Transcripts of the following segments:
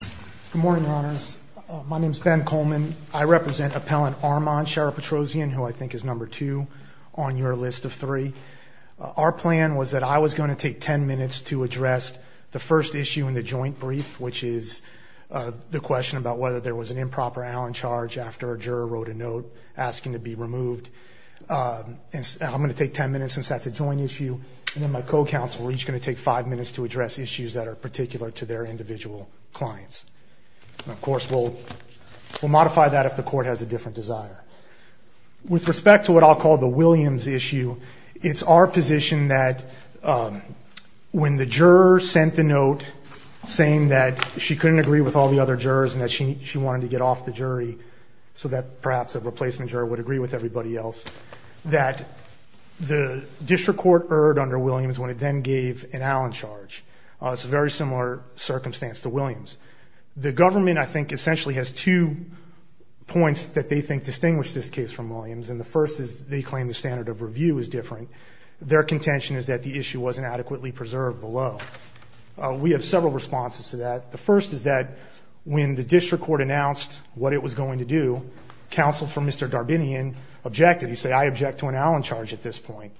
Good morning, your honors. My name is Ben Coleman. I represent Appellant Armond, Sheriff Petrosian, who I think is number two on your list of three. Our plan was that I was going to take ten minutes to address the first issue in the joint brief, which is the question about whether there was an improper Allen charge after a juror wrote a note asking to be removed. I'm going to take ten minutes since that's a joint issue, and then my co-counsel, we're each going to take five minutes to address issues that are particular to their individual clients. Of course, we'll modify that if the court has a different desire. With respect to what I'll call the Williams issue, it's our position that when the juror sent the note saying that she couldn't agree with all the other jurors and that she wanted to get off the jury so that perhaps a replacement juror would agree with everybody else, that the district court erred under Williams when it then gave an Allen charge. It's a very similar circumstance to Williams. The government, I think, essentially has two points that they think distinguish this case from Williams, and the first is they claim the standard of review is different. Their contention is that the issue wasn't adequately preserved below. We have several responses to that. The first is that when the district court announced what it was going to do, counsel for Mr. Darbinian objected. He said, I object to an Allen charge at this point.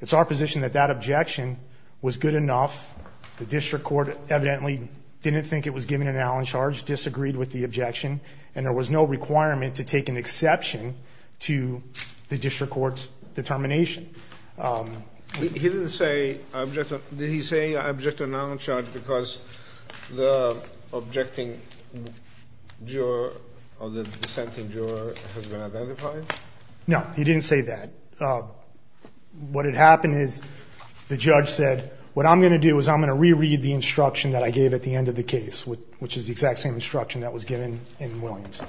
It's our position that that objection was good enough. The district court evidently didn't think it was giving an Allen charge, disagreed with the objection, and there was no requirement to take an exception to the district court's determination. He didn't say, did he say, I object to an Allen charge because the objecting juror or the dissenting juror has been identified? No, he didn't say that. What had happened is the judge said, what I'm going to do is I'm going to reread the instruction that I gave at the end of the case, which is the exact same instruction that was given in Williams.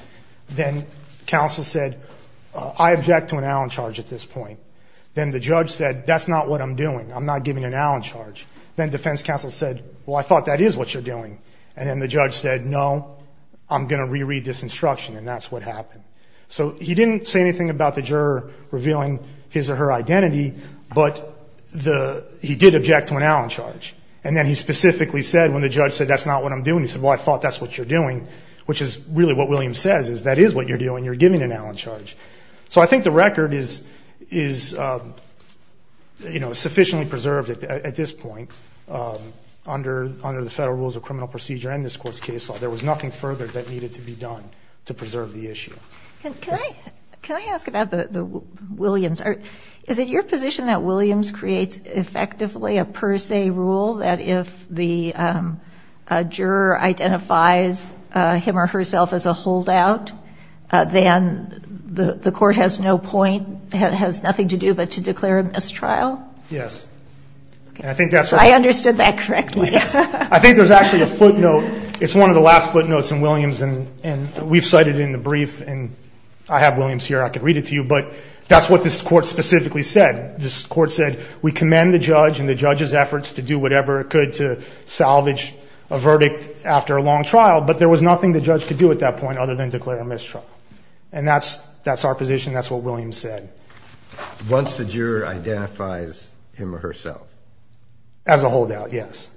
Then counsel said, I object to an Allen charge at this point. Then the judge said, that's not what I'm doing. I'm not giving an Allen charge. Then defense counsel said, well, I thought that is what you're doing. And then the judge said, no, I'm going to reread this instruction, and that's what happened. So he didn't say anything about the juror revealing his or her identity, but he did object to an Allen charge. And then he specifically said, when the judge said, that's not what I'm doing, he said, well, I thought that's what you're doing, which is really what Williams says, is that is what you're doing, you're giving an Allen charge. So I think the record is sufficiently preserved at this point under the federal rules of criminal procedure and this court's case law. There was nothing further that needed to be done to preserve the issue. Can I ask about the Williams? Is it your position that Williams creates effectively a per se rule that if the juror identifies him or herself as a holdout, then the court has no point, has nothing to do but to declare a mistrial? Yes. I understood that correctly. I think there's actually a footnote. It's one of the last footnotes in Williams, and we've cited it in the brief, and I have Williams here. I could read it to you, but that's what this court specifically said. This court said, we commend the judge and the judge's efforts to do whatever it could to salvage a verdict after a long trial, but there was nothing the judge could do at that point other than declare a mistrial. And that's our position. That's what Williams said. Once the juror identifies him or herself. As a holdout, yes.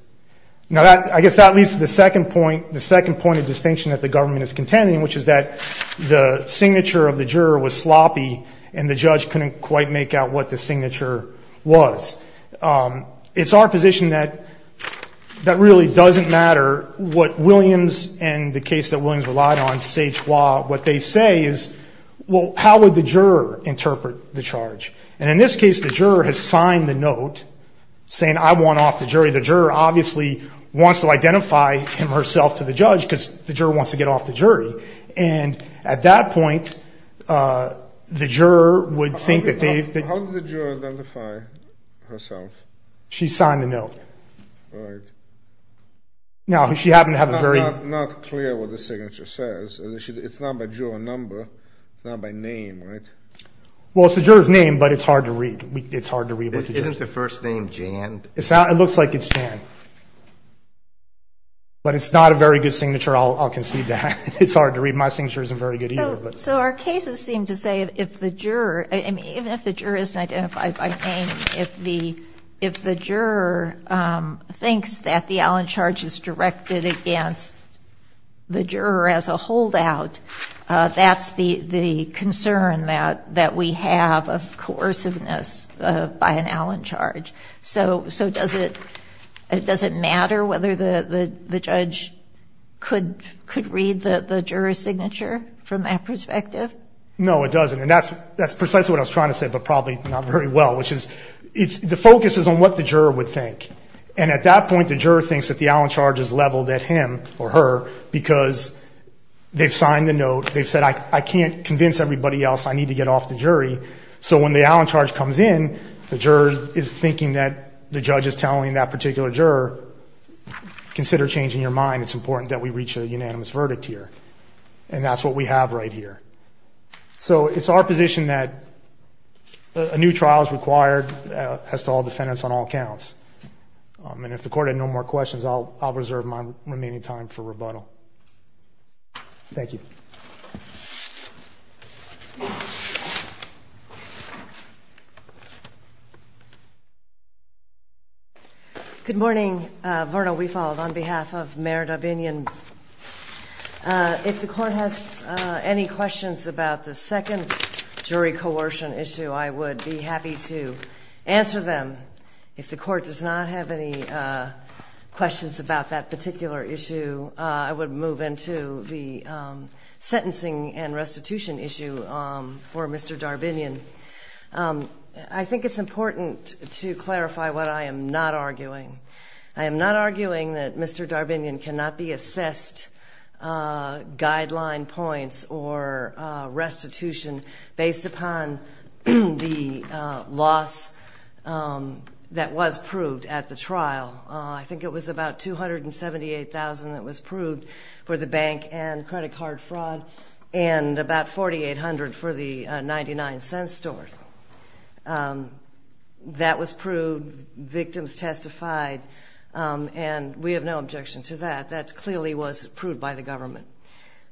Now, I guess that leads to the second point, the second point of distinction that the government is contending, which is that the signature of the juror was sloppy and the judge couldn't quite make out what the signature was. It's our position that that really doesn't matter what Williams and the case that Williams relied on, what they say is, well, how would the juror interpret the charge? And in this case, the juror has signed the note saying, I want off the jury. The juror obviously wants to identify him or herself to the judge because the juror wants to get off the jury. And at that point, the juror would think that they've. How did the juror identify herself? She signed the note. All right. Now, she happened to have a very. Not clear what the signature says. It's not by juror number. It's not by name, right? Well, it's the juror's name, but it's hard to read. It's hard to read. Isn't the first name Jan? It looks like it's Jan. But it's not a very good signature. I'll concede that. It's hard to read. My signature isn't very good either. So our cases seem to say if the juror, even if the juror isn't identified by name, if the juror thinks that the Allen charge is directed against the juror as a holdout, that's the concern that we have of coerciveness by an Allen charge. So does it matter whether the judge could read the juror's signature from that perspective? No, it doesn't. And that's precisely what I was trying to say, but probably not very well, which is the focus is on what the juror would think. And at that point, the juror thinks that the Allen charge is leveled at him or her because they've signed the note. They've said I can't convince everybody else I need to get off the jury. So when the Allen charge comes in, the juror is thinking that the judge is telling that particular juror, consider changing your mind. It's important that we reach a unanimous verdict here. And that's what we have right here. So it's our position that a new trial is required as to all defendants on all counts. And if the Court had no more questions, I'll reserve my remaining time for rebuttal. Thank you. Good morning. Vernal, we followed on behalf of Merida Binion. If the Court has any questions about the second jury coercion issue, I would be happy to answer them. If the Court does not have any questions about that particular issue, I would move into the sentencing and restitution issue for Mr. Darbinion. I think it's important to clarify what I am not arguing. I am not arguing that Mr. Darbinion cannot be assessed guideline points or restitution based upon the loss that was proved at the trial. I think it was about $278,000 that was proved for the bank and credit card fraud and about $4,800 for the 99-cent stores. That was proved, victims testified, and we have no objection to that. That clearly was proved by the government.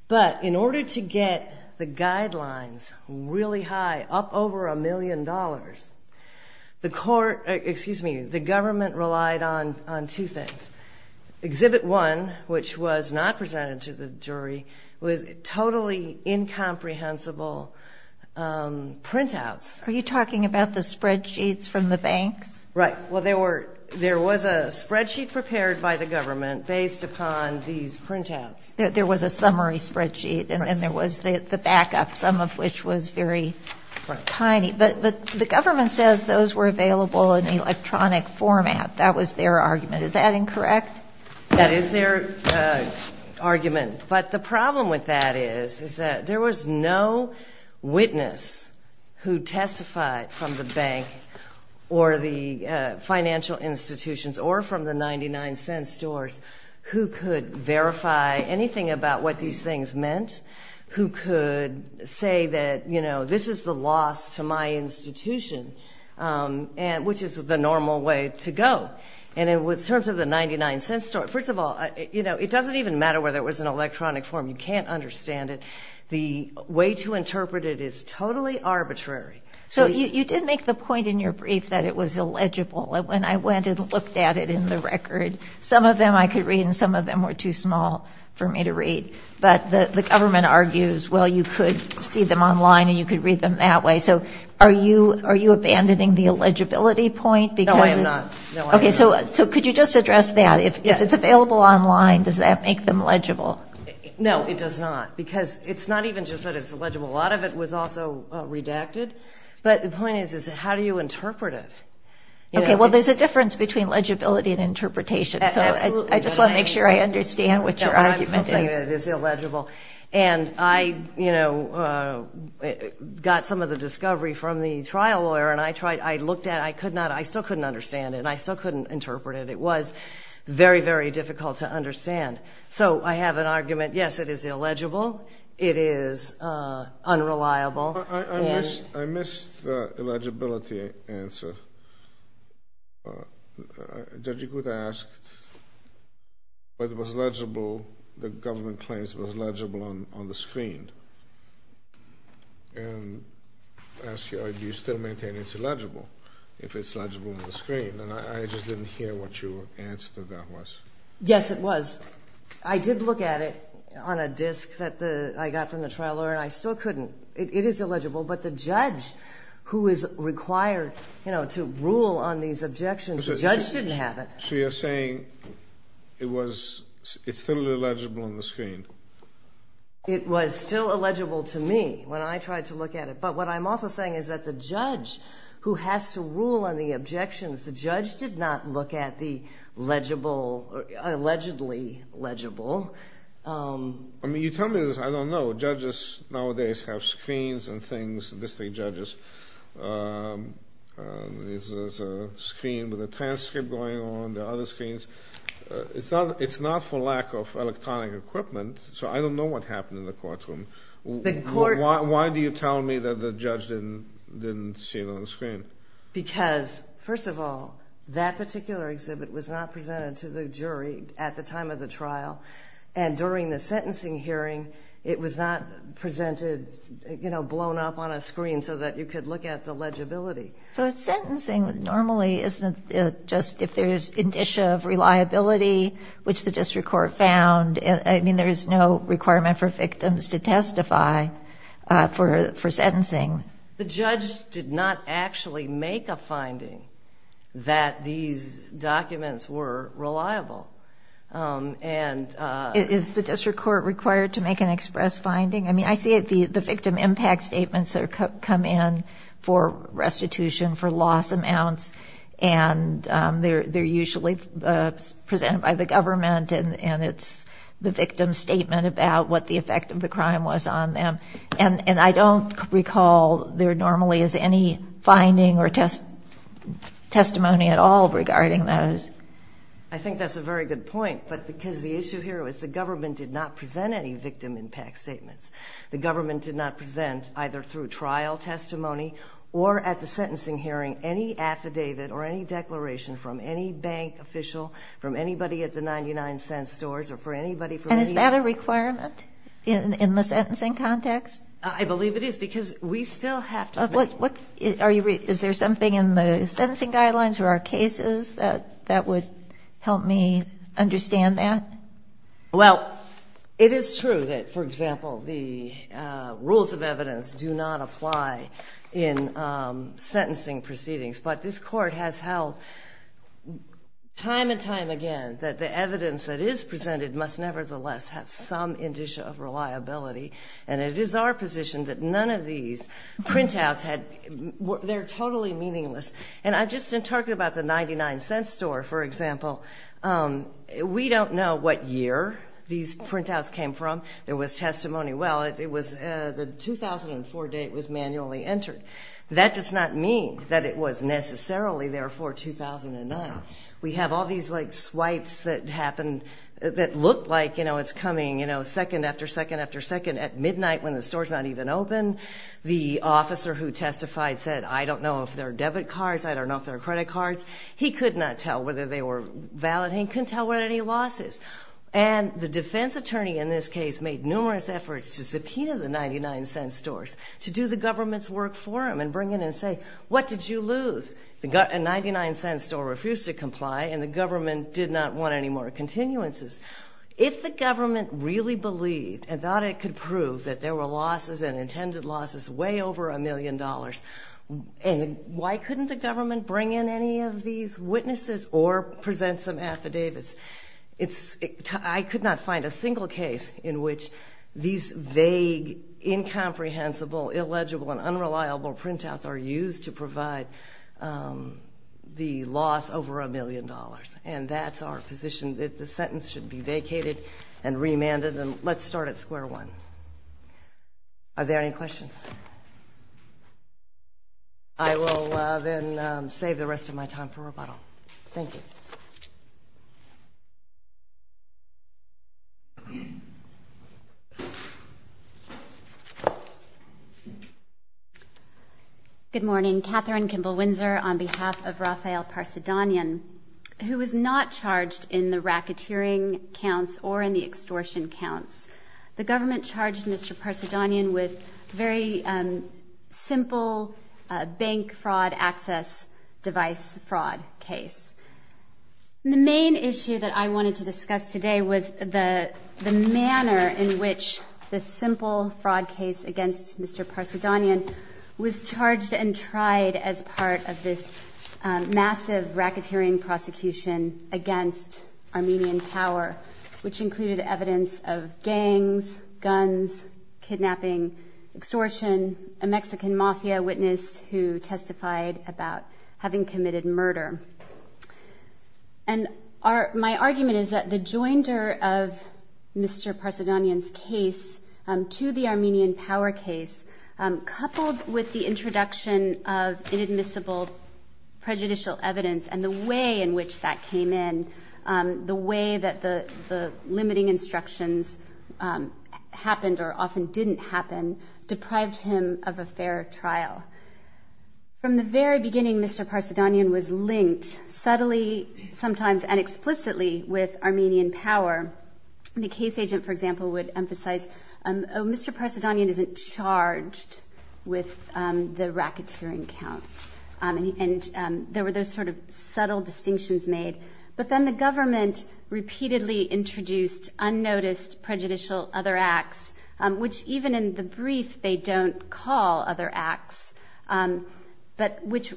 But in order to get the guidelines really high, up over a million dollars, the government relied on two things. Exhibit one, which was not presented to the jury, was totally incomprehensible printouts. Are you talking about the spreadsheets from the banks? Right. Well, there was a spreadsheet prepared by the government based upon these printouts. There was a summary spreadsheet, and there was the backup, some of which was very tiny. But the government says those were available in electronic format. That was their argument. Is that incorrect? That is their argument. But the problem with that is that there was no witness who testified from the bank or the financial institutions or from the 99-cent stores who could verify anything about what these things meant, who could say that, you know, this is the loss to my institution, which is the normal way to go. And in terms of the 99-cent store, first of all, you know, it doesn't even matter whether it was in electronic form. You can't understand it. The way to interpret it is totally arbitrary. So you did make the point in your brief that it was illegible. When I went and looked at it in the record, some of them I could read and some of them were too small for me to read. But the government argues, well, you could see them online and you could read them that way. So are you abandoning the illegibility point? No, I am not. Okay, so could you just address that? If it's available online, does that make them legible? No, it does not, because it's not even just that it's illegible. A lot of it was also redacted. But the point is, is how do you interpret it? Okay, well, there's a difference between legibility and interpretation, so I just want to make sure I understand what your argument is. I'm still saying that it is illegible. And I, you know, got some of the discovery from the trial lawyer, and I looked at it and I still couldn't understand it and I still couldn't interpret it. It was very, very difficult to understand. So I have an argument, yes, it is illegible. It is unreliable. I missed the illegibility answer. Judge Agutta asked whether it was legible, the government claims it was legible on the screen. And asked, do you still maintain it's illegible if it's legible on the screen? And I just didn't hear what your answer to that was. Yes, it was. I did look at it on a disc that I got from the trial lawyer, and I still couldn't. It is illegible. But the judge who is required, you know, to rule on these objections, the judge didn't have it. So you're saying it's still illegible on the screen. It was still illegible to me when I tried to look at it. But what I'm also saying is that the judge who has to rule on the objections, the judge did not look at the legible, allegedly legible. I mean, you tell me this, I don't know. Judges nowadays have screens and things, district judges. There's a screen with a transcript going on, there are other screens. It's not for lack of electronic equipment, so I don't know what happened in the courtroom. Why do you tell me that the judge didn't see it on the screen? Because, first of all, that particular exhibit was not presented to the jury at the time of the trial, and during the sentencing hearing it was not presented, you know, blown up on a screen so that you could look at the legibility. So sentencing normally isn't just if there's an issue of reliability, which the district court found. I mean, there is no requirement for victims to testify for sentencing. The judge did not actually make a finding that these documents were reliable. Is the district court required to make an express finding? I mean, I see the victim impact statements that come in for restitution for loss amounts, and they're usually presented by the government, and it's the victim's statement about what the effect of the crime was on them. And I don't recall there normally is any finding or testimony at all regarding those. I think that's a very good point, but because the issue here was the government did not present any victim impact statements. The government did not present, either through trial testimony or at the sentencing hearing, any affidavit or any declaration from any bank official, from anybody at the 99-Cent Stores, or for anybody from any other... I believe it is because we still have to... Is there something in the sentencing guidelines or our cases that would help me understand that? Well, it is true that, for example, the rules of evidence do not apply in sentencing proceedings, but this court has held time and time again that the evidence that is presented must nevertheless have some indicia of reliability, and it is our position that none of these printouts had... They're totally meaningless. And I've just been talking about the 99-Cent Store, for example. We don't know what year these printouts came from. There was testimony, well, it was the 2004 date was manually entered. That does not mean that it was necessarily there for 2009. We have all these, like, swipes that happen, that look like, you know, it's coming, you know, second after second after second at midnight when the store's not even open. The officer who testified said, I don't know if they're debit cards, I don't know if they're credit cards. He could not tell whether they were valid. He couldn't tell what any loss is. And the defense attorney in this case made numerous efforts to subpoena the 99-Cent Stores, to do the government's work for them and bring in and say, what did you lose? The 99-Cent Store refused to comply, and the government did not want any more continuances. If the government really believed and thought it could prove that there were losses and intended losses way over a million dollars, why couldn't the government bring in any of these witnesses or present some affidavits? I could not find a single case in which these vague, incomprehensible, illegible, and unreliable printouts are used to provide the loss over a million dollars. And that's our position, that the sentence should be vacated and remanded. And let's start at square one. Are there any questions? I will then save the rest of my time for rebuttal. Thank you. Good morning. Katherine Kimball-Windsor on behalf of Rafael Parcedanian, who was not charged in the racketeering counts or in the extortion counts. The government charged Mr. Parcedanian with a very simple bank fraud access device fraud case. The main issue that I wanted to discuss today was the manner in which this simple fraud case against Mr. Parcedanian was charged and tried as part of this massive racketeering prosecution against Armenian power, which included evidence of gangs, guns, kidnapping, extortion, a Mexican mafia witness who testified about having committed murder. And my argument is that the joinder of Mr. Parcedanian's case to the Armenian power case, coupled with the introduction of inadmissible prejudicial evidence and the way in which that came in, the way that the limiting instructions happened or often didn't happen, deprived him of a fair trial. From the very beginning, Mr. Parcedanian was linked subtly, sometimes inexplicably, with Armenian power. The case agent, for example, would emphasize, oh, Mr. Parcedanian isn't charged with the racketeering counts. And there were those sort of subtle distinctions made. But then the government repeatedly introduced unnoticed prejudicial other acts, which even in the brief they don't call other acts, but which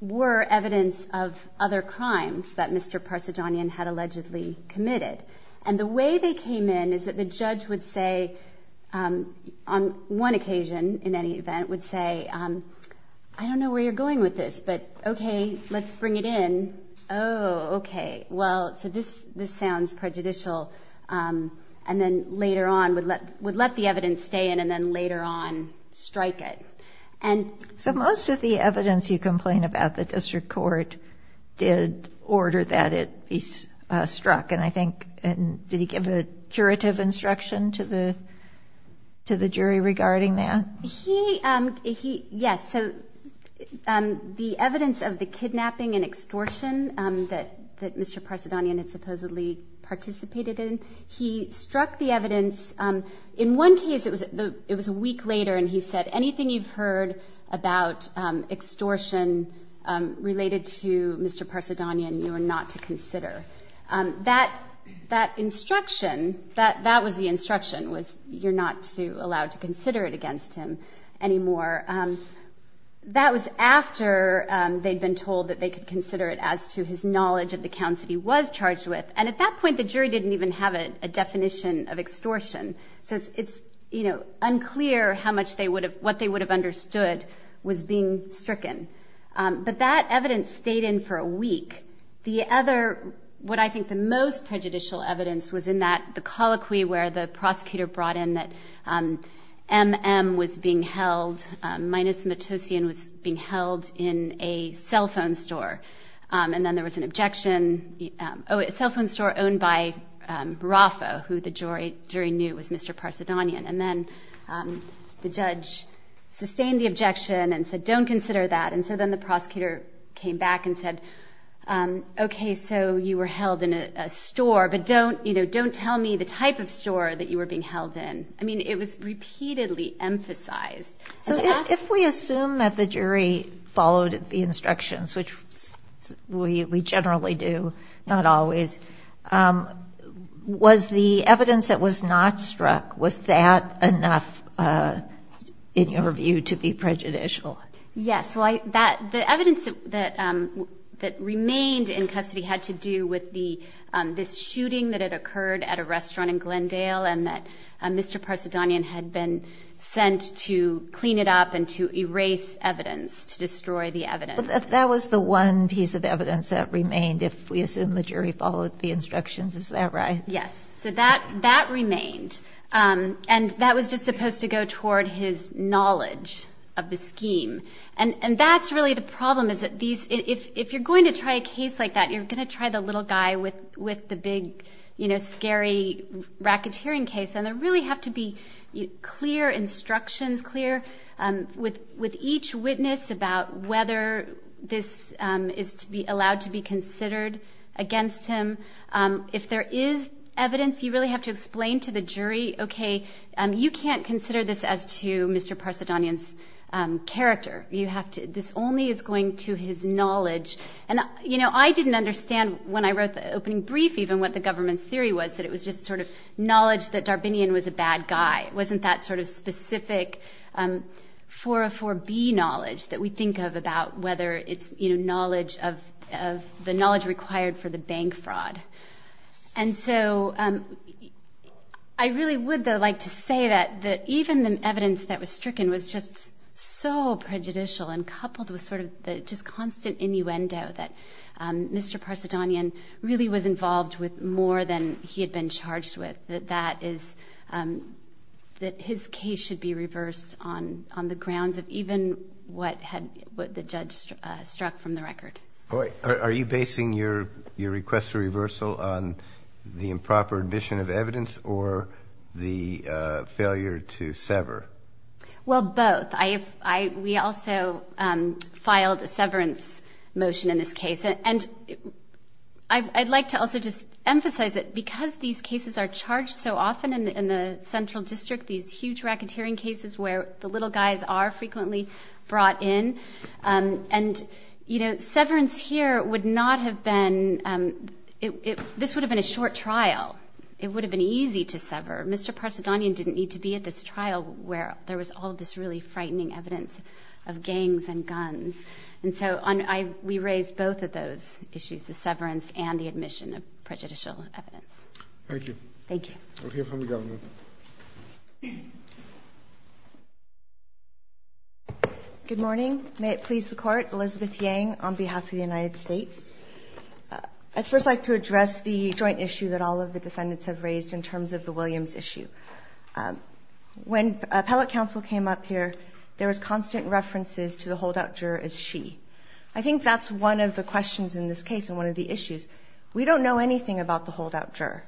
were evidence of other crimes that Mr. Parcedanian had allegedly committed. And the way they came in is that the judge would say, on one occasion in any event, would say, I don't know where you're going with this, but, okay, let's bring it in. Oh, okay, well, so this sounds prejudicial. And then later on would let the evidence stay in and then later on strike it. So most of the evidence you complain about the district court did order that it be struck, and I think did he give a curative instruction to the jury regarding that? Yes. So the evidence of the kidnapping and extortion that Mr. Parcedanian had supposedly participated in, he struck the evidence. In one case, it was a week later, and he said, anything you've heard about extortion related to Mr. Parcedanian you are not to consider. That instruction, that was the instruction, was you're not allowed to consider it against him anymore. That was after they'd been told that they could consider it as to his knowledge of the counts that he was charged with. And at that point, the jury didn't even have a definition of extortion. So it's unclear what they would have understood was being stricken. But that evidence stayed in for a week. The other, what I think the most prejudicial evidence was in the colloquy where the prosecutor brought in that M.M. was being held, Minus Matossian was being held in a cell phone store. And then there was an objection. Oh, a cell phone store owned by Raffo, who the jury knew was Mr. Parcedanian. And then the judge sustained the objection and said, don't consider that. And so then the prosecutor came back and said, okay, so you were held in a store, but don't tell me the type of store that you were being held in. I mean, it was repeatedly emphasized. So if we assume that the jury followed the instructions, which we generally do, not always, was the evidence that was not struck, was that enough, in your view, to be prejudicial? Yes. The evidence that remained in custody had to do with this shooting that had occurred at a restaurant in Glendale and that Mr. Parcedanian had been sent to clean it up and to erase evidence, to destroy the evidence. But that was the one piece of evidence that remained, if we assume the jury followed the instructions. Is that right? Yes. So that remained. And that was just supposed to go toward his knowledge of the scheme. And that's really the problem, is that if you're going to try a case like that, you're going to try the little guy with the big, scary racketeering case. And there really have to be clear instructions, clear, with each witness, about whether this is allowed to be considered against him. If there is evidence, you really have to explain to the jury, okay, you can't consider this as to Mr. Parcedanian's character. This only is going to his knowledge. And, you know, I didn't understand when I wrote the opening brief even what the government's theory was, that it was just sort of knowledge that Darbinian was a bad guy. It wasn't that sort of specific 404B knowledge that we think of about whether it's, you know, knowledge of the knowledge required for the bank fraud. And so I really would, though, like to say that even the evidence that was stricken was just so prejudicial and coupled with sort of the just constant innuendo that Mr. Parcedanian really was involved with more than he had been charged with. That his case should be reversed on the grounds of even what the judge struck from the record. Are you basing your request for reversal on the improper admission of evidence or the failure to sever? Well, both. We also filed a severance motion in this case. And I'd like to also just emphasize that because these cases are charged so often in the central district, these huge racketeering cases where the little guys are frequently brought in, and, you know, severance here would not have been, this would have been a short trial. It would have been easy to sever. Mr. Parcedanian didn't need to be at this trial where there was all this really frightening evidence of gangs and guns. And so we raised both of those issues, the severance and the admission of prejudicial evidence. Thank you. Thank you. We'll hear from the Governor. Good morning. May it please the Court. Elizabeth Yang on behalf of the United States. I'd first like to address the joint issue that all of the defendants have raised in terms of the Williams issue. When appellate counsel came up here, there was constant references to the holdout juror as she. I think that's one of the questions in this case and one of the issues. We don't know anything about the holdout juror.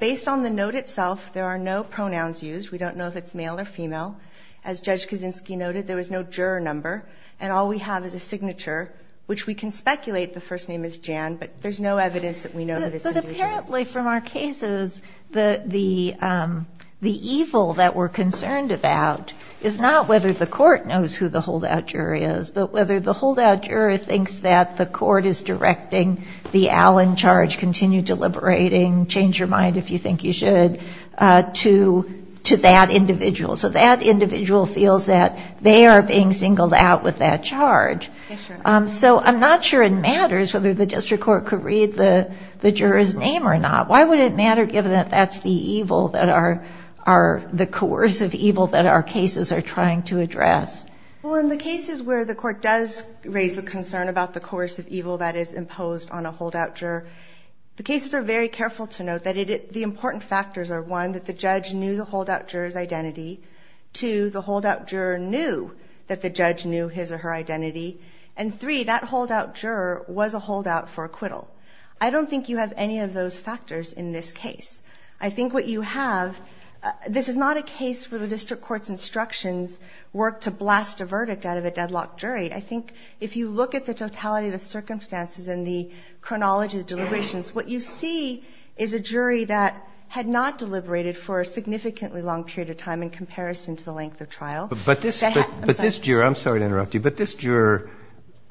Based on the note itself, there are no pronouns used. We don't know if it's male or female. As Judge Kaczynski noted, there was no juror number. And all we have is a signature, which we can speculate the first name is Jan. But there's no evidence that we know who this individual is. But apparently from our cases, the evil that we're concerned about is not whether the court knows who the holdout jury is, but whether the holdout juror thinks that the court is directing the al in charge, continue deliberating, change your mind if you think you should, to that individual. So that individual feels that they are being singled out with that charge. So I'm not sure it matters whether the district court could read the juror's name or not. Why would it matter given that that's the evil, the coercive evil that our cases are trying to address? Well, in the cases where the court does raise a concern about the coercive evil that is imposed on a holdout juror, the cases are very careful to note that the important factors are, one, that the judge knew the holdout juror's identity. Two, the holdout juror knew that the judge knew his or her identity. And three, that holdout juror was a holdout for acquittal. I don't think you have any of those factors in this case. I think what you have, this is not a case where the district court's instructions work to blast a verdict out of a deadlock jury. I think if you look at the totality of the circumstances and the chronology of deliberations, what you see is a jury that had not deliberated for a significantly long period of time in comparison to the length of trial. But this juror, I'm sorry to interrupt you, but this juror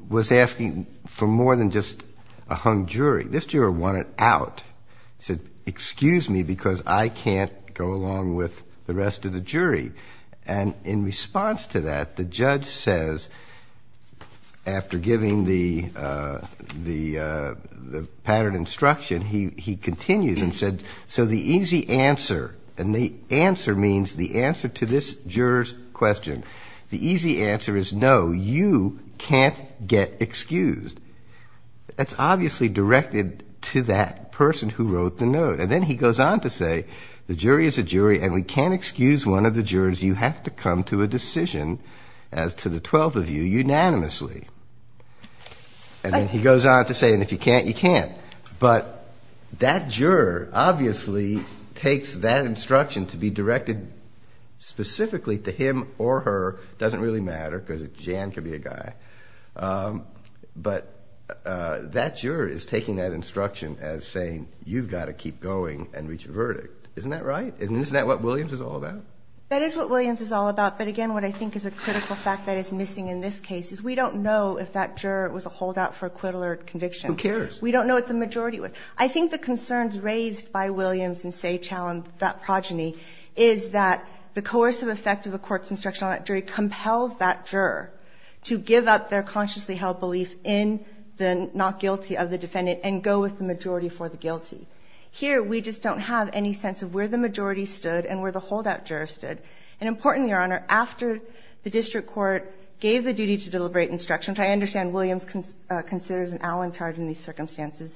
was asking for more than just a hung jury. This juror wanted out. He said, excuse me, because I can't go along with the rest of the jury. And in response to that, the judge says, after giving the pattern instruction, he continues and said, so the easy answer, and the answer means the answer to this juror's question, the easy answer is no, you can't get excused. That's obviously directed to that person who wrote the note. And then he goes on to say, the jury is a jury, and we can't excuse one of the jurors. You have to come to a decision as to the 12 of you unanimously. And then he goes on to say, and if you can't, you can't. But that juror obviously takes that instruction to be directed specifically to him or her. It doesn't really matter because Jan could be a guy. But that juror is taking that instruction as saying, you've got to keep going and reach a verdict. Isn't that right? And isn't that what Williams is all about? That is what Williams is all about. But again, what I think is a critical fact that is missing in this case is we don't know if that juror was a holdout for acquittal or conviction. Who cares? We don't know what the majority was. I think the concerns raised by Williams in Seychell and that progeny is that the coercive effect of the court's instruction on that jury compels that juror to give up their consciously held belief in the not guilty of the defendant and go with the majority for the guilty. Here, we just don't have any sense of where the majority stood and where the holdout juror stood. And importantly, Your Honor, after the district court gave the duty to deliberate instruction, which I understand Williams considers an alan charge in these circumstances,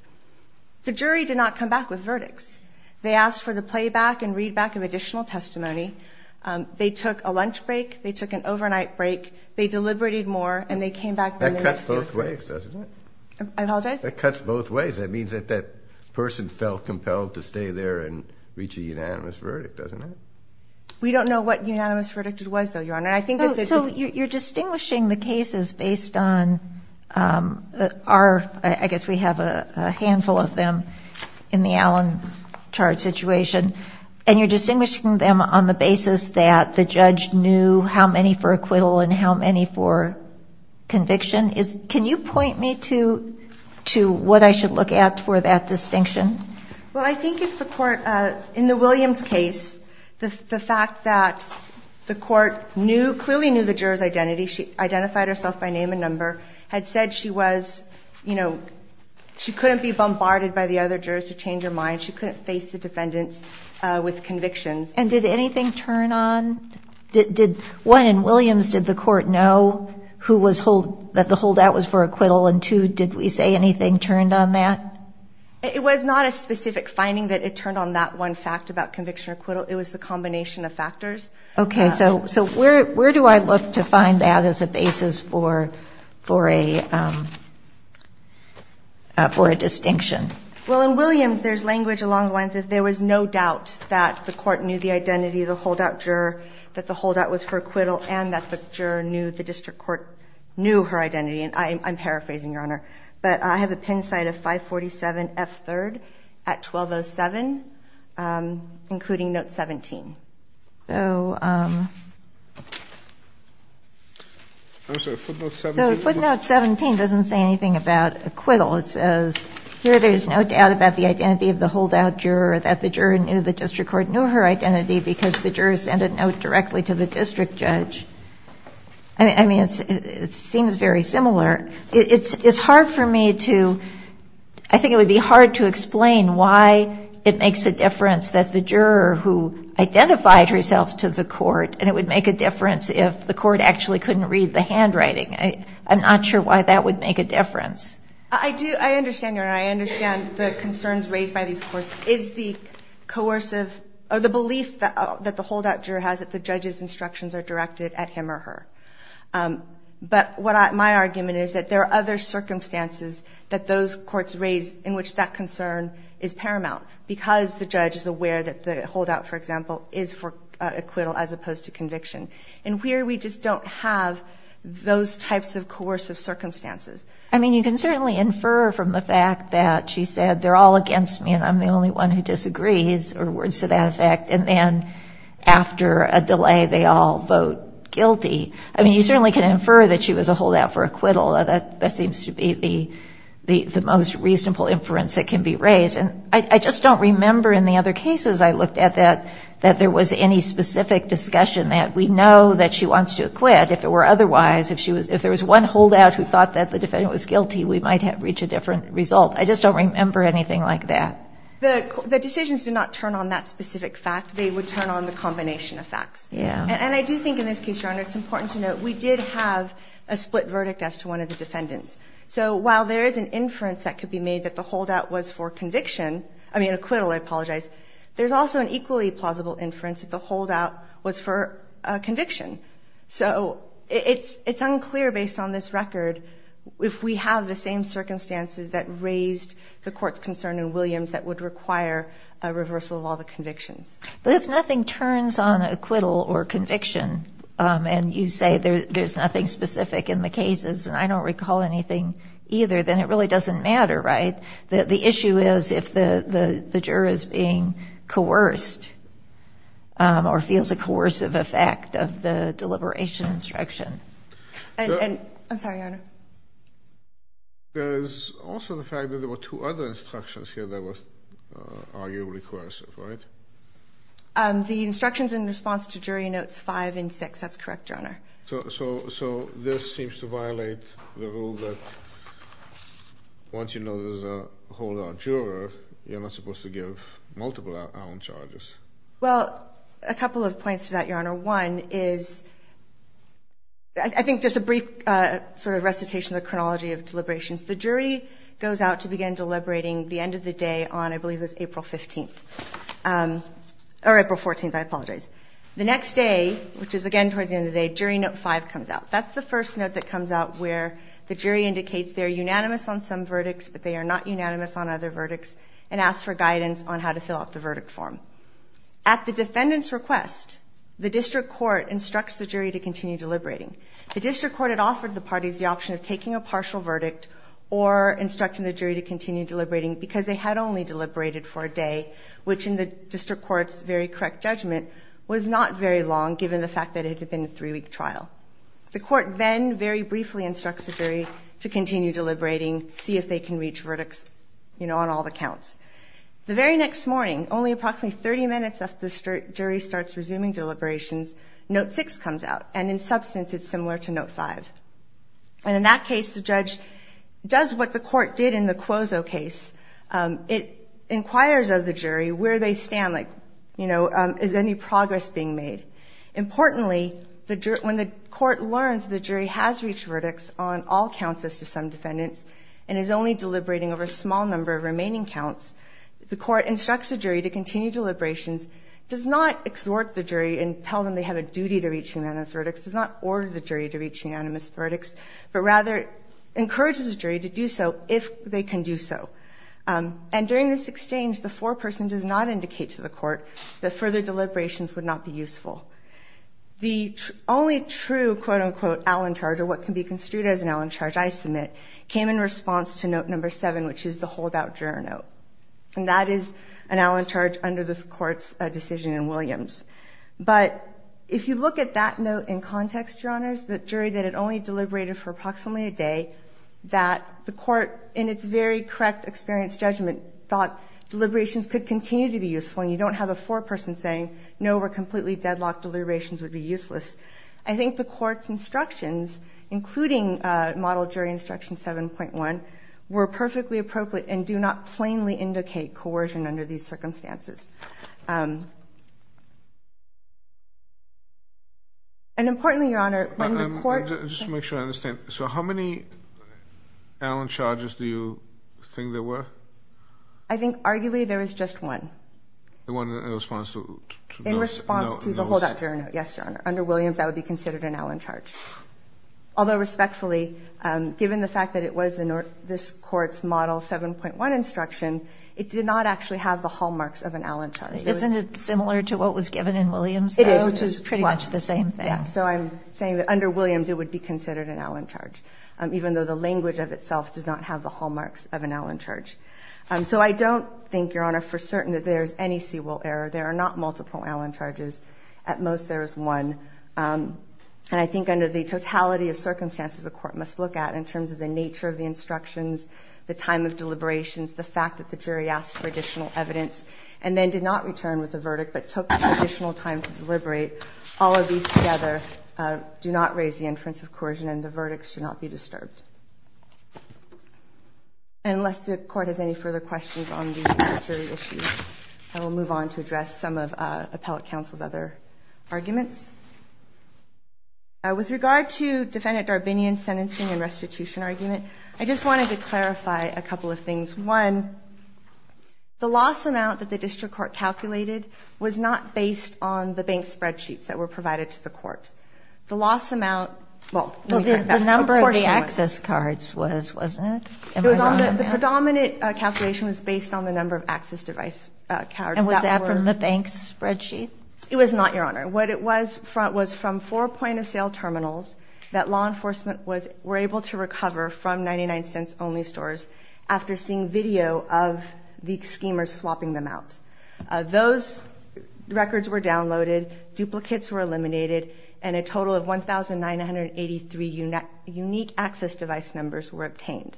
the jury did not come back with verdicts. They asked for the playback and readback of additional testimony. They took a lunch break. They took an overnight break. They deliberated more, and they came back. That cuts both ways, doesn't it? I apologize? That cuts both ways. That means that that person felt compelled to stay there and reach a unanimous verdict, doesn't it? We don't know what unanimous verdict it was, though, Your Honor. So you're distinguishing the cases based on our ‑‑ I guess we have a handful of them in the alan charge situation, and you're distinguishing them on the basis that the judge knew how many for acquittal and how many for conviction. Can you point me to what I should look at for that distinction? Well, I think if the court ‑‑ in the Williams case, the fact that the court knew, clearly knew the juror's identity, she identified herself by name and number, had said she was, you know, she couldn't be bombarded by the other jurors to change her mind, she couldn't face the defendants with convictions. And did anything turn on? One, in Williams, did the court know that the holdout was for acquittal? And, two, did we say anything turned on that? It was not a specific finding that it turned on that one fact about conviction or acquittal. It was the combination of factors. Okay. So where do I look to find that as a basis for a distinction? Well, in Williams, there's language along the lines that there was no doubt that the court knew the identity of the holdout juror, that the holdout was for acquittal, and that the juror knew the district court knew her identity. And I'm paraphrasing, Your Honor, but I have a pin site of 547F3rd at 1207, including note 17. So footnote 17 doesn't say anything about acquittal. It says, here there's no doubt about the identity of the holdout juror, that the juror knew the district court knew her identity because the juror sent a note directly to the district judge. I mean, it seems very similar. It's hard for me to ‑‑ I think it would be hard to explain why it makes a difference that the juror who identified herself to the court and it would make a difference if the court actually couldn't read the handwriting. I'm not sure why that would make a difference. I do. I understand, Your Honor. I understand the concerns raised by these courts. It's the coercive ‑‑ or the belief that the holdout juror has that the judge's instructions are directed at him or her. But what my argument is that there are other circumstances that those courts raise in which that concern is paramount because the judge is aware that the holdout, for example, is for acquittal as opposed to conviction. And here we just don't have those types of coercive circumstances. I mean, you can certainly infer from the fact that she said, they're all against me and I'm the only one who disagrees, or words to that effect, and then after a delay they all vote guilty. I mean, you certainly can infer that she was a holdout for acquittal. That seems to be the most reasonable inference that can be raised. And I just don't remember in the other cases I looked at that there was any specific discussion that we know that she wants to acquit. But if it were otherwise, if there was one holdout who thought that the defendant was guilty, we might have reached a different result. I just don't remember anything like that. The decisions do not turn on that specific fact. They would turn on the combination of facts. Yeah. And I do think in this case, Your Honor, it's important to note we did have a split verdict as to one of the defendants. So while there is an inference that could be made that the holdout was for conviction ‑‑ I mean, acquittal, I apologize. There's also an equally plausible inference that the holdout was for conviction. So it's unclear, based on this record, if we have the same circumstances that raised the court's concern in Williams that would require a reversal of all the convictions. But if nothing turns on acquittal or conviction and you say there's nothing specific in the cases and I don't recall anything either, then it really doesn't matter, right? The issue is if the juror is being coerced or feels a coercive effect of the deliberation instruction. I'm sorry, Your Honor. There's also the fact that there were two other instructions here that was arguably coercive, right? The instructions in response to jury notes five and six, that's correct, Your Honor. So this seems to violate the rule that once you know there's a holdout juror, you're not supposed to give multiple out on charges. Well, a couple of points to that, Your Honor. One is, I think just a brief sort of recitation of the chronology of deliberations. The jury goes out to begin deliberating the end of the day on, I believe it was April 15th. Or April 14th, I apologize. The next day, which is again towards the end of the day, jury note five comes out. That's the first note that comes out where the jury indicates they're unanimous on some verdicts but they are not unanimous on other verdicts and asks for guidance on how to fill out the verdict form. At the defendant's request, the district court instructs the jury to continue deliberating. The district court had offered the parties the option of taking a partial verdict or instructing the jury to continue deliberating because they had only deliberated for a day, which in the district court's very correct judgment was not very long, given the fact that it had been a three-week trial. The court then very briefly instructs the jury to continue deliberating, see if they can reach verdicts on all the counts. The very next morning, only approximately 30 minutes after the jury starts resuming deliberations, note six comes out, and in substance it's similar to note five. And in that case, the judge does what the court did in the Cuozzo case. It inquires of the jury where they stand, like, you know, is any progress being made? Importantly, when the court learns the jury has reached verdicts on all counts as to some defendants and is only deliberating over a small number of remaining counts, the court instructs the jury to continue deliberations, does not exhort the jury and tell them they have a duty to reach unanimous verdicts, does not order the jury to reach unanimous verdicts, but rather encourages the jury to do so if they can do so. And during this exchange, the foreperson does not indicate to the court that further deliberations would not be useful. The only true, quote, unquote, Allen charge or what can be construed as an Allen charge I submit came in response to note number seven, which is the holdout juror note. And that is an Allen charge under this court's decision in Williams. But if you look at that note in context, Your Honors, the jury that had only deliberated for approximately a day, that the court, in its very correct experience judgment, thought deliberations could continue to be useful and you don't have a foreperson saying no, we're completely deadlocked, deliberations would be useless. I think the court's instructions, including model jury instruction 7.1, were perfectly appropriate and do not plainly indicate coercion under these circumstances. And importantly, Your Honor, when the court... Just to make sure I understand. So how many Allen charges do you think there were? I think arguably there was just one. The one in response to... In response to the holdout juror note, yes, Your Honor. Under Williams, that would be considered an Allen charge. Although respectfully, given the fact that it was this court's model 7.1 instruction, it did not actually have the hallmarks of an Allen charge. Isn't it similar to what was given in Williams? It is, which is pretty much the same thing. So I'm saying that under Williams, it would be considered an Allen charge, even though the language of itself does not have the hallmarks of an Allen charge. So I don't think, Your Honor, for certain that there's any Seawolf error. There are not multiple Allen charges. At most, there is one. And I think under the totality of circumstances the court must look at, in terms of the nature of the instructions, the time of deliberations, the fact that the jury asked for additional evidence and then did not return with a verdict but took additional time to deliberate. All of these together do not raise the inference of coercion and the verdicts should not be disturbed. Unless the Court has any further questions on the jury issue, I will move on to address some of Appellate Counsel's other arguments. With regard to Defendant Darbinian's sentencing and restitution argument, I just wanted to clarify a couple of things. One, the loss amount that the district court calculated was not based on the bank spreadsheets that were provided to the court. The loss amount, well, let me turn it back. The number of the access cards was, wasn't it? The predominant calculation was based on the number of access device cards. And was that from the bank's spreadsheet? It was not, Your Honor. What it was from four point-of-sale terminals that law enforcement were able to recover from 99-cents-only stores after seeing video of the schemers swapping them out. Those records were downloaded, duplicates were eliminated, and a total of 1,983 unique access device numbers were obtained.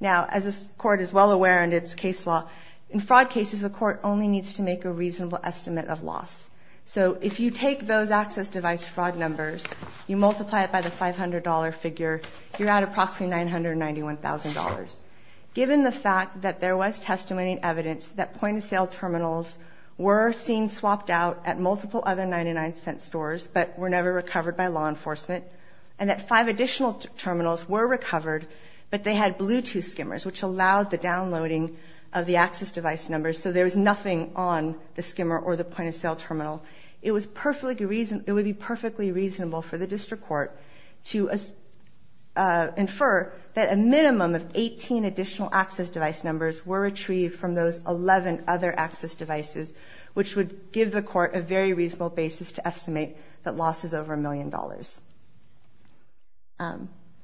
Now, as the Court is well aware under its case law, in fraud cases the Court only needs to make a reasonable estimate of loss. So if you take those access device fraud numbers, you multiply it by the $500 figure, you're at approximately $991,000. Given the fact that there was testimony and evidence that point-of-sale terminals were seen swapped out at multiple other 99-cent stores but were never recovered by law enforcement, and that five additional terminals were recovered, but they had Bluetooth schemers, which allowed the downloading of the access device numbers, so there was nothing on the schemer or the point-of-sale terminal, it would be perfectly reasonable for the District Court to infer that a minimum of 18 additional access device numbers were retrieved from those 11 other access devices, which would give the Court a very reasonable basis to estimate that loss is over $1 million.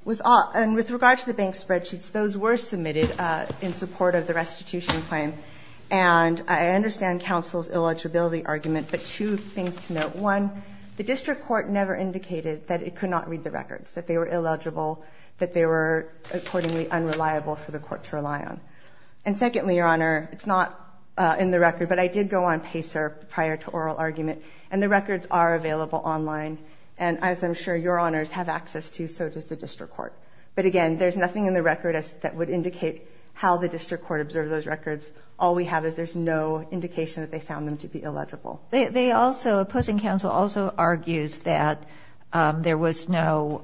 With regard to the bank spreadsheets, those were submitted in support of the restitution claim, and I understand counsel's eligibility argument, but two things to note. One, the District Court never indicated that it could not read the records, that they were illegible, that they were accordingly unreliable for the Court to rely on. And secondly, Your Honor, it's not in the record, but I did go on PACER prior to oral argument, and the records are available online, and as I'm sure Your Honors have access to, so does the District Court. But again, there's nothing in the record that would indicate how the District Court observed those records. All we have is there's no indication that they found them to be illegible. They also, opposing counsel also argues that there was no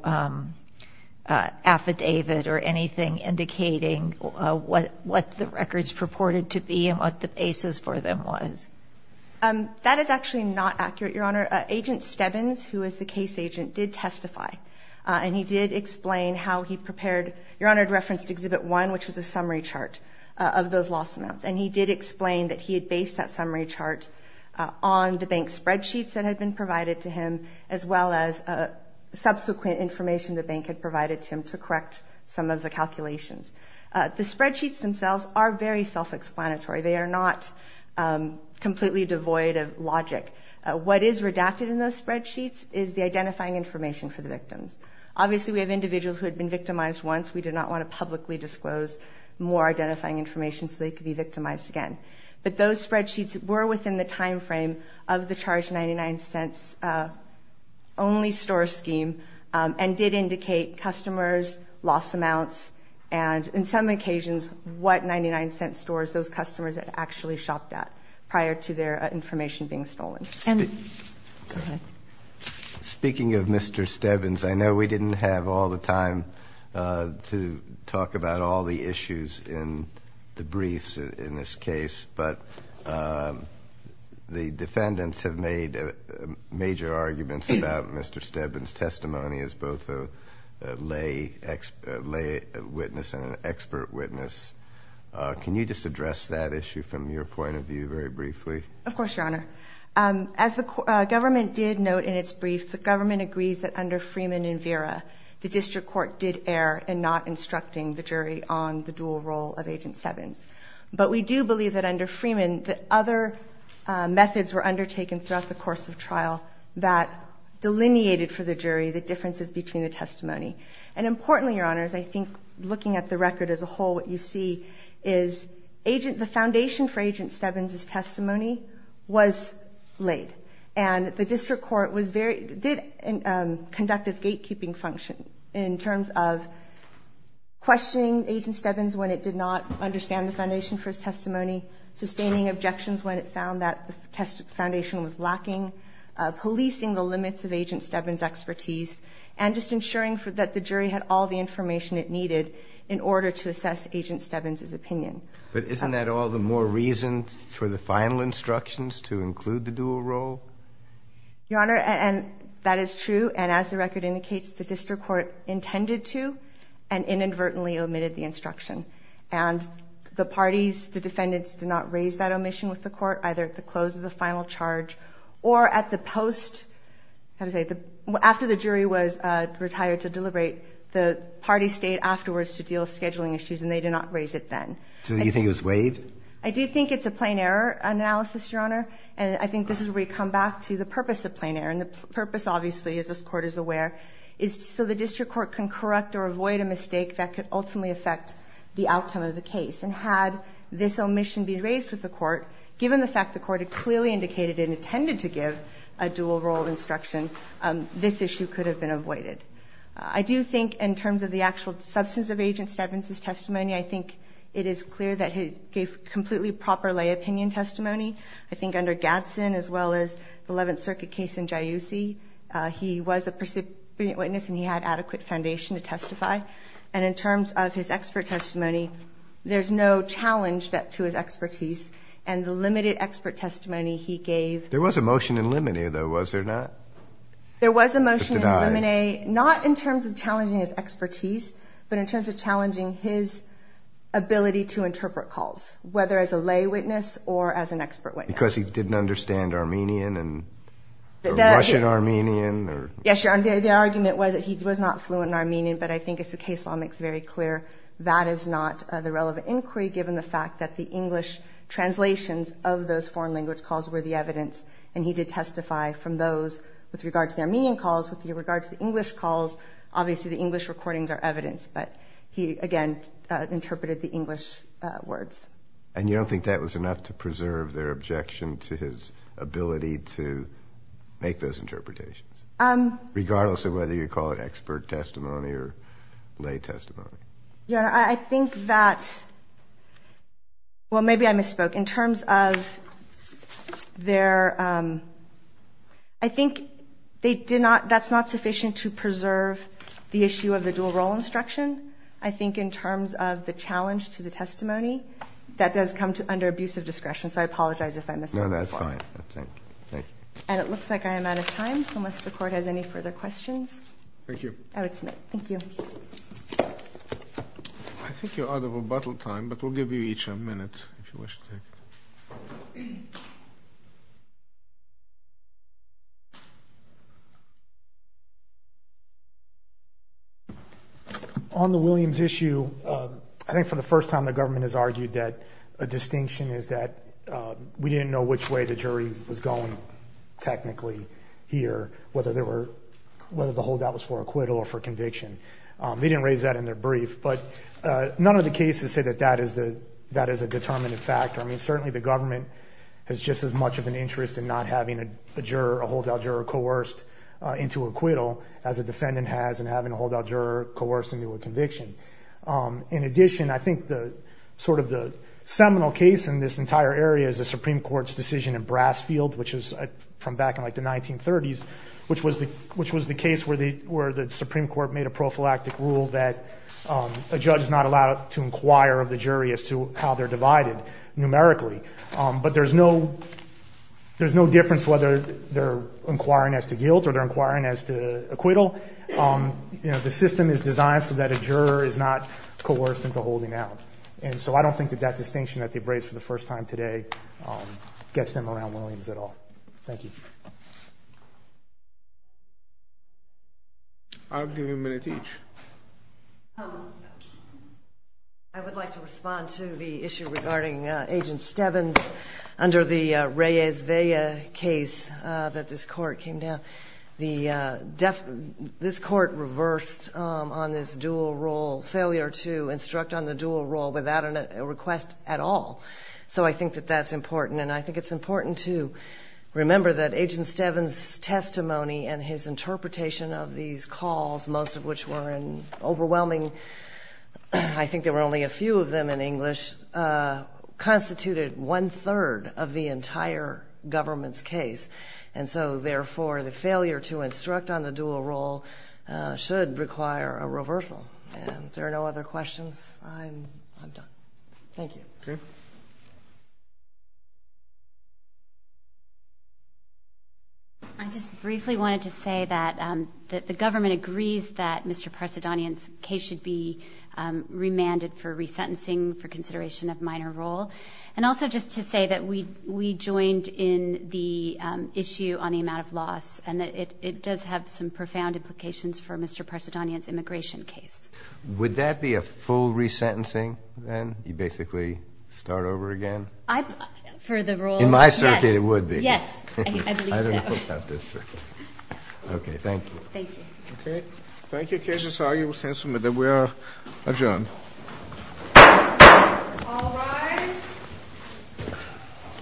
affidavit or anything indicating what the records purported to be and what the basis for them was. That is actually not accurate, Your Honor. Agent Stebbins, who is the case agent, did testify, and he did explain how he prepared, Your Honor, and referenced Exhibit 1, which was a summary chart of those lost amounts, and he did explain that he had based that summary chart on the bank's spreadsheets that had been provided to him as well as subsequent information the bank had provided to him to correct some of the calculations. The spreadsheets themselves are very self-explanatory. They are not completely devoid of logic. What is redacted in those spreadsheets is the identifying information for the victims. Obviously, we have individuals who had been victimized once. We do not want to publicly disclose more identifying information so they could be victimized again. But those spreadsheets were within the time frame of the charge $0.99 only store scheme and did indicate customers' loss amounts and in some occasions what $0.99 stores those customers had actually shopped at prior to their information being stolen. Go ahead. Speaking of Mr. Stebbins, I know we didn't have all the time to talk about all the issues in the briefs in this case, but the defendants have made major arguments about Mr. Stebbins' testimony as both a lay witness and an expert witness. Can you just address that issue from your point of view very briefly? Of course, Your Honor. As the government did note in its brief, the government agrees that under Freeman and Vera, the district court did err in not instructing the jury on the dual role of Agent Stebbins. But we do believe that under Freeman, the other methods were undertaken throughout the course of trial that delineated for the jury the differences between the testimony. And importantly, Your Honors, I think looking at the record as a whole, what you see is the foundation for Agent Stebbins' testimony was laid. And the district court did conduct its gatekeeping function in terms of questioning Agent Stebbins when it did not understand the foundation for his testimony, sustaining objections when it found that the foundation was lacking, policing the limits of Agent Stebbins' expertise, and just ensuring that the jury had all the information it needed in order to assess Agent Stebbins' opinion. But isn't that all the more reason for the final instructions to include the dual role? Your Honor, that is true. And as the record indicates, the district court intended to and inadvertently omitted the instruction. And the parties, the defendants, did not raise that omission with the court, either at the close of the final charge or at the post. After the jury was retired to deliberate, the parties stayed afterwards to deal with scheduling issues, and they did not raise it then. So you think it was waived? I do think it's a plain error analysis, Your Honor. And I think this is where we come back to the purpose of plain error. And the purpose, obviously, as this Court is aware, is so the district court can correct or avoid a mistake that could ultimately affect the outcome of the case. And had this omission been raised with the court, given the fact the court had clearly indicated it intended to give a dual role instruction, this issue could have been avoided. I do think in terms of the actual substance of Agent Stebbins' testimony, I think it is clear that he gave completely proper lay opinion testimony. I think under Gadsden, as well as the Eleventh Circuit case in Jayussi, he was a percipient witness and he had adequate foundation to testify. And in terms of his expert testimony, there's no challenge to his expertise. And the limited expert testimony he gave to the district court, There was a motion in Limine, though, was there not? There was a motion in Limine, not in terms of challenging his expertise, but in terms of challenging his ability to interpret calls, whether as a lay witness or as an expert witness. Because he didn't understand Armenian and Russian-Armenian? Yes, Your Honor, the argument was that he was not fluent in Armenian, but I think as the case law makes very clear, that is not the relevant inquiry, given the fact that the English translations of those foreign language calls were the evidence, and he did testify from those, with regard to the Armenian calls, with regard to the English calls, obviously the English recordings are evidence, but he, again, interpreted the English words. And you don't think that was enough to preserve their objection to his ability to make those interpretations? Regardless of whether you call it expert testimony or lay testimony? Your Honor, I think that, well, maybe I misspoke. In terms of their – I think they did not – that's not sufficient to preserve the issue of the dual role instruction. I think in terms of the challenge to the testimony, that does come under abusive discretion, so I apologize if I missed that. No, that's fine. And it looks like I am out of time, so unless the Court has any further questions? Thank you. I would submit. Thank you. I think you're out of rebuttal time, but we'll give you each a minute if you wish to take it. On the Williams issue, I think for the first time the government has argued that a distinction is that we didn't know which way the jury was going technically here, whether the holdout was for acquittal or for conviction. They didn't raise that in their brief, but none of the cases say that that is a determinative factor. I mean, certainly the government has just as much of an interest in not having a holdout juror coerced into acquittal as a defendant has in having a holdout juror coerced into a conviction. In addition, I think sort of the seminal case in this entire area is the Supreme Court's decision in Brasfield, which is from back in like the 1930s, which was the case where the Supreme Court made a prophylactic rule that a judge is not allowed to inquire of the jury as to how they're divided numerically. But there's no difference whether they're inquiring as to guilt or they're inquiring as to acquittal. The system is designed so that a juror is not coerced into holding out. And so I don't think that that distinction that they've raised for the first time today gets them around Williams at all. Thank you. I'll give you a minute each. I would like to respond to the issue regarding Agent Stebbins. Under the Reyes-Vea case that this court came down, this court reversed on this dual role, failure to instruct on the dual role without a request at all. So I think that that's important, and I think it's important to remember that Agent Stebbins' testimony and his interpretation of these calls, most of which were overwhelming. I think there were only a few of them in English, constituted one-third of the entire government's case. And so, therefore, the failure to instruct on the dual role should require a reversal. And if there are no other questions, I'm done. Thank you. I just briefly wanted to say that the government agrees that Mr. Parsadanyan's case should be remanded for resentencing for consideration of minor role, and also just to say that we joined in the issue on the amount of loss and that it does have some profound implications for Mr. Parsadanyan's immigration case. Would that be a full resentencing then? You'd basically start over again? For the role, yes. In my circuit, it would be. Yes, I believe so. I don't know about this circuit. Okay, thank you. Thank you. Okay, thank you. The case is argued in the sense that we are adjourned. All rise.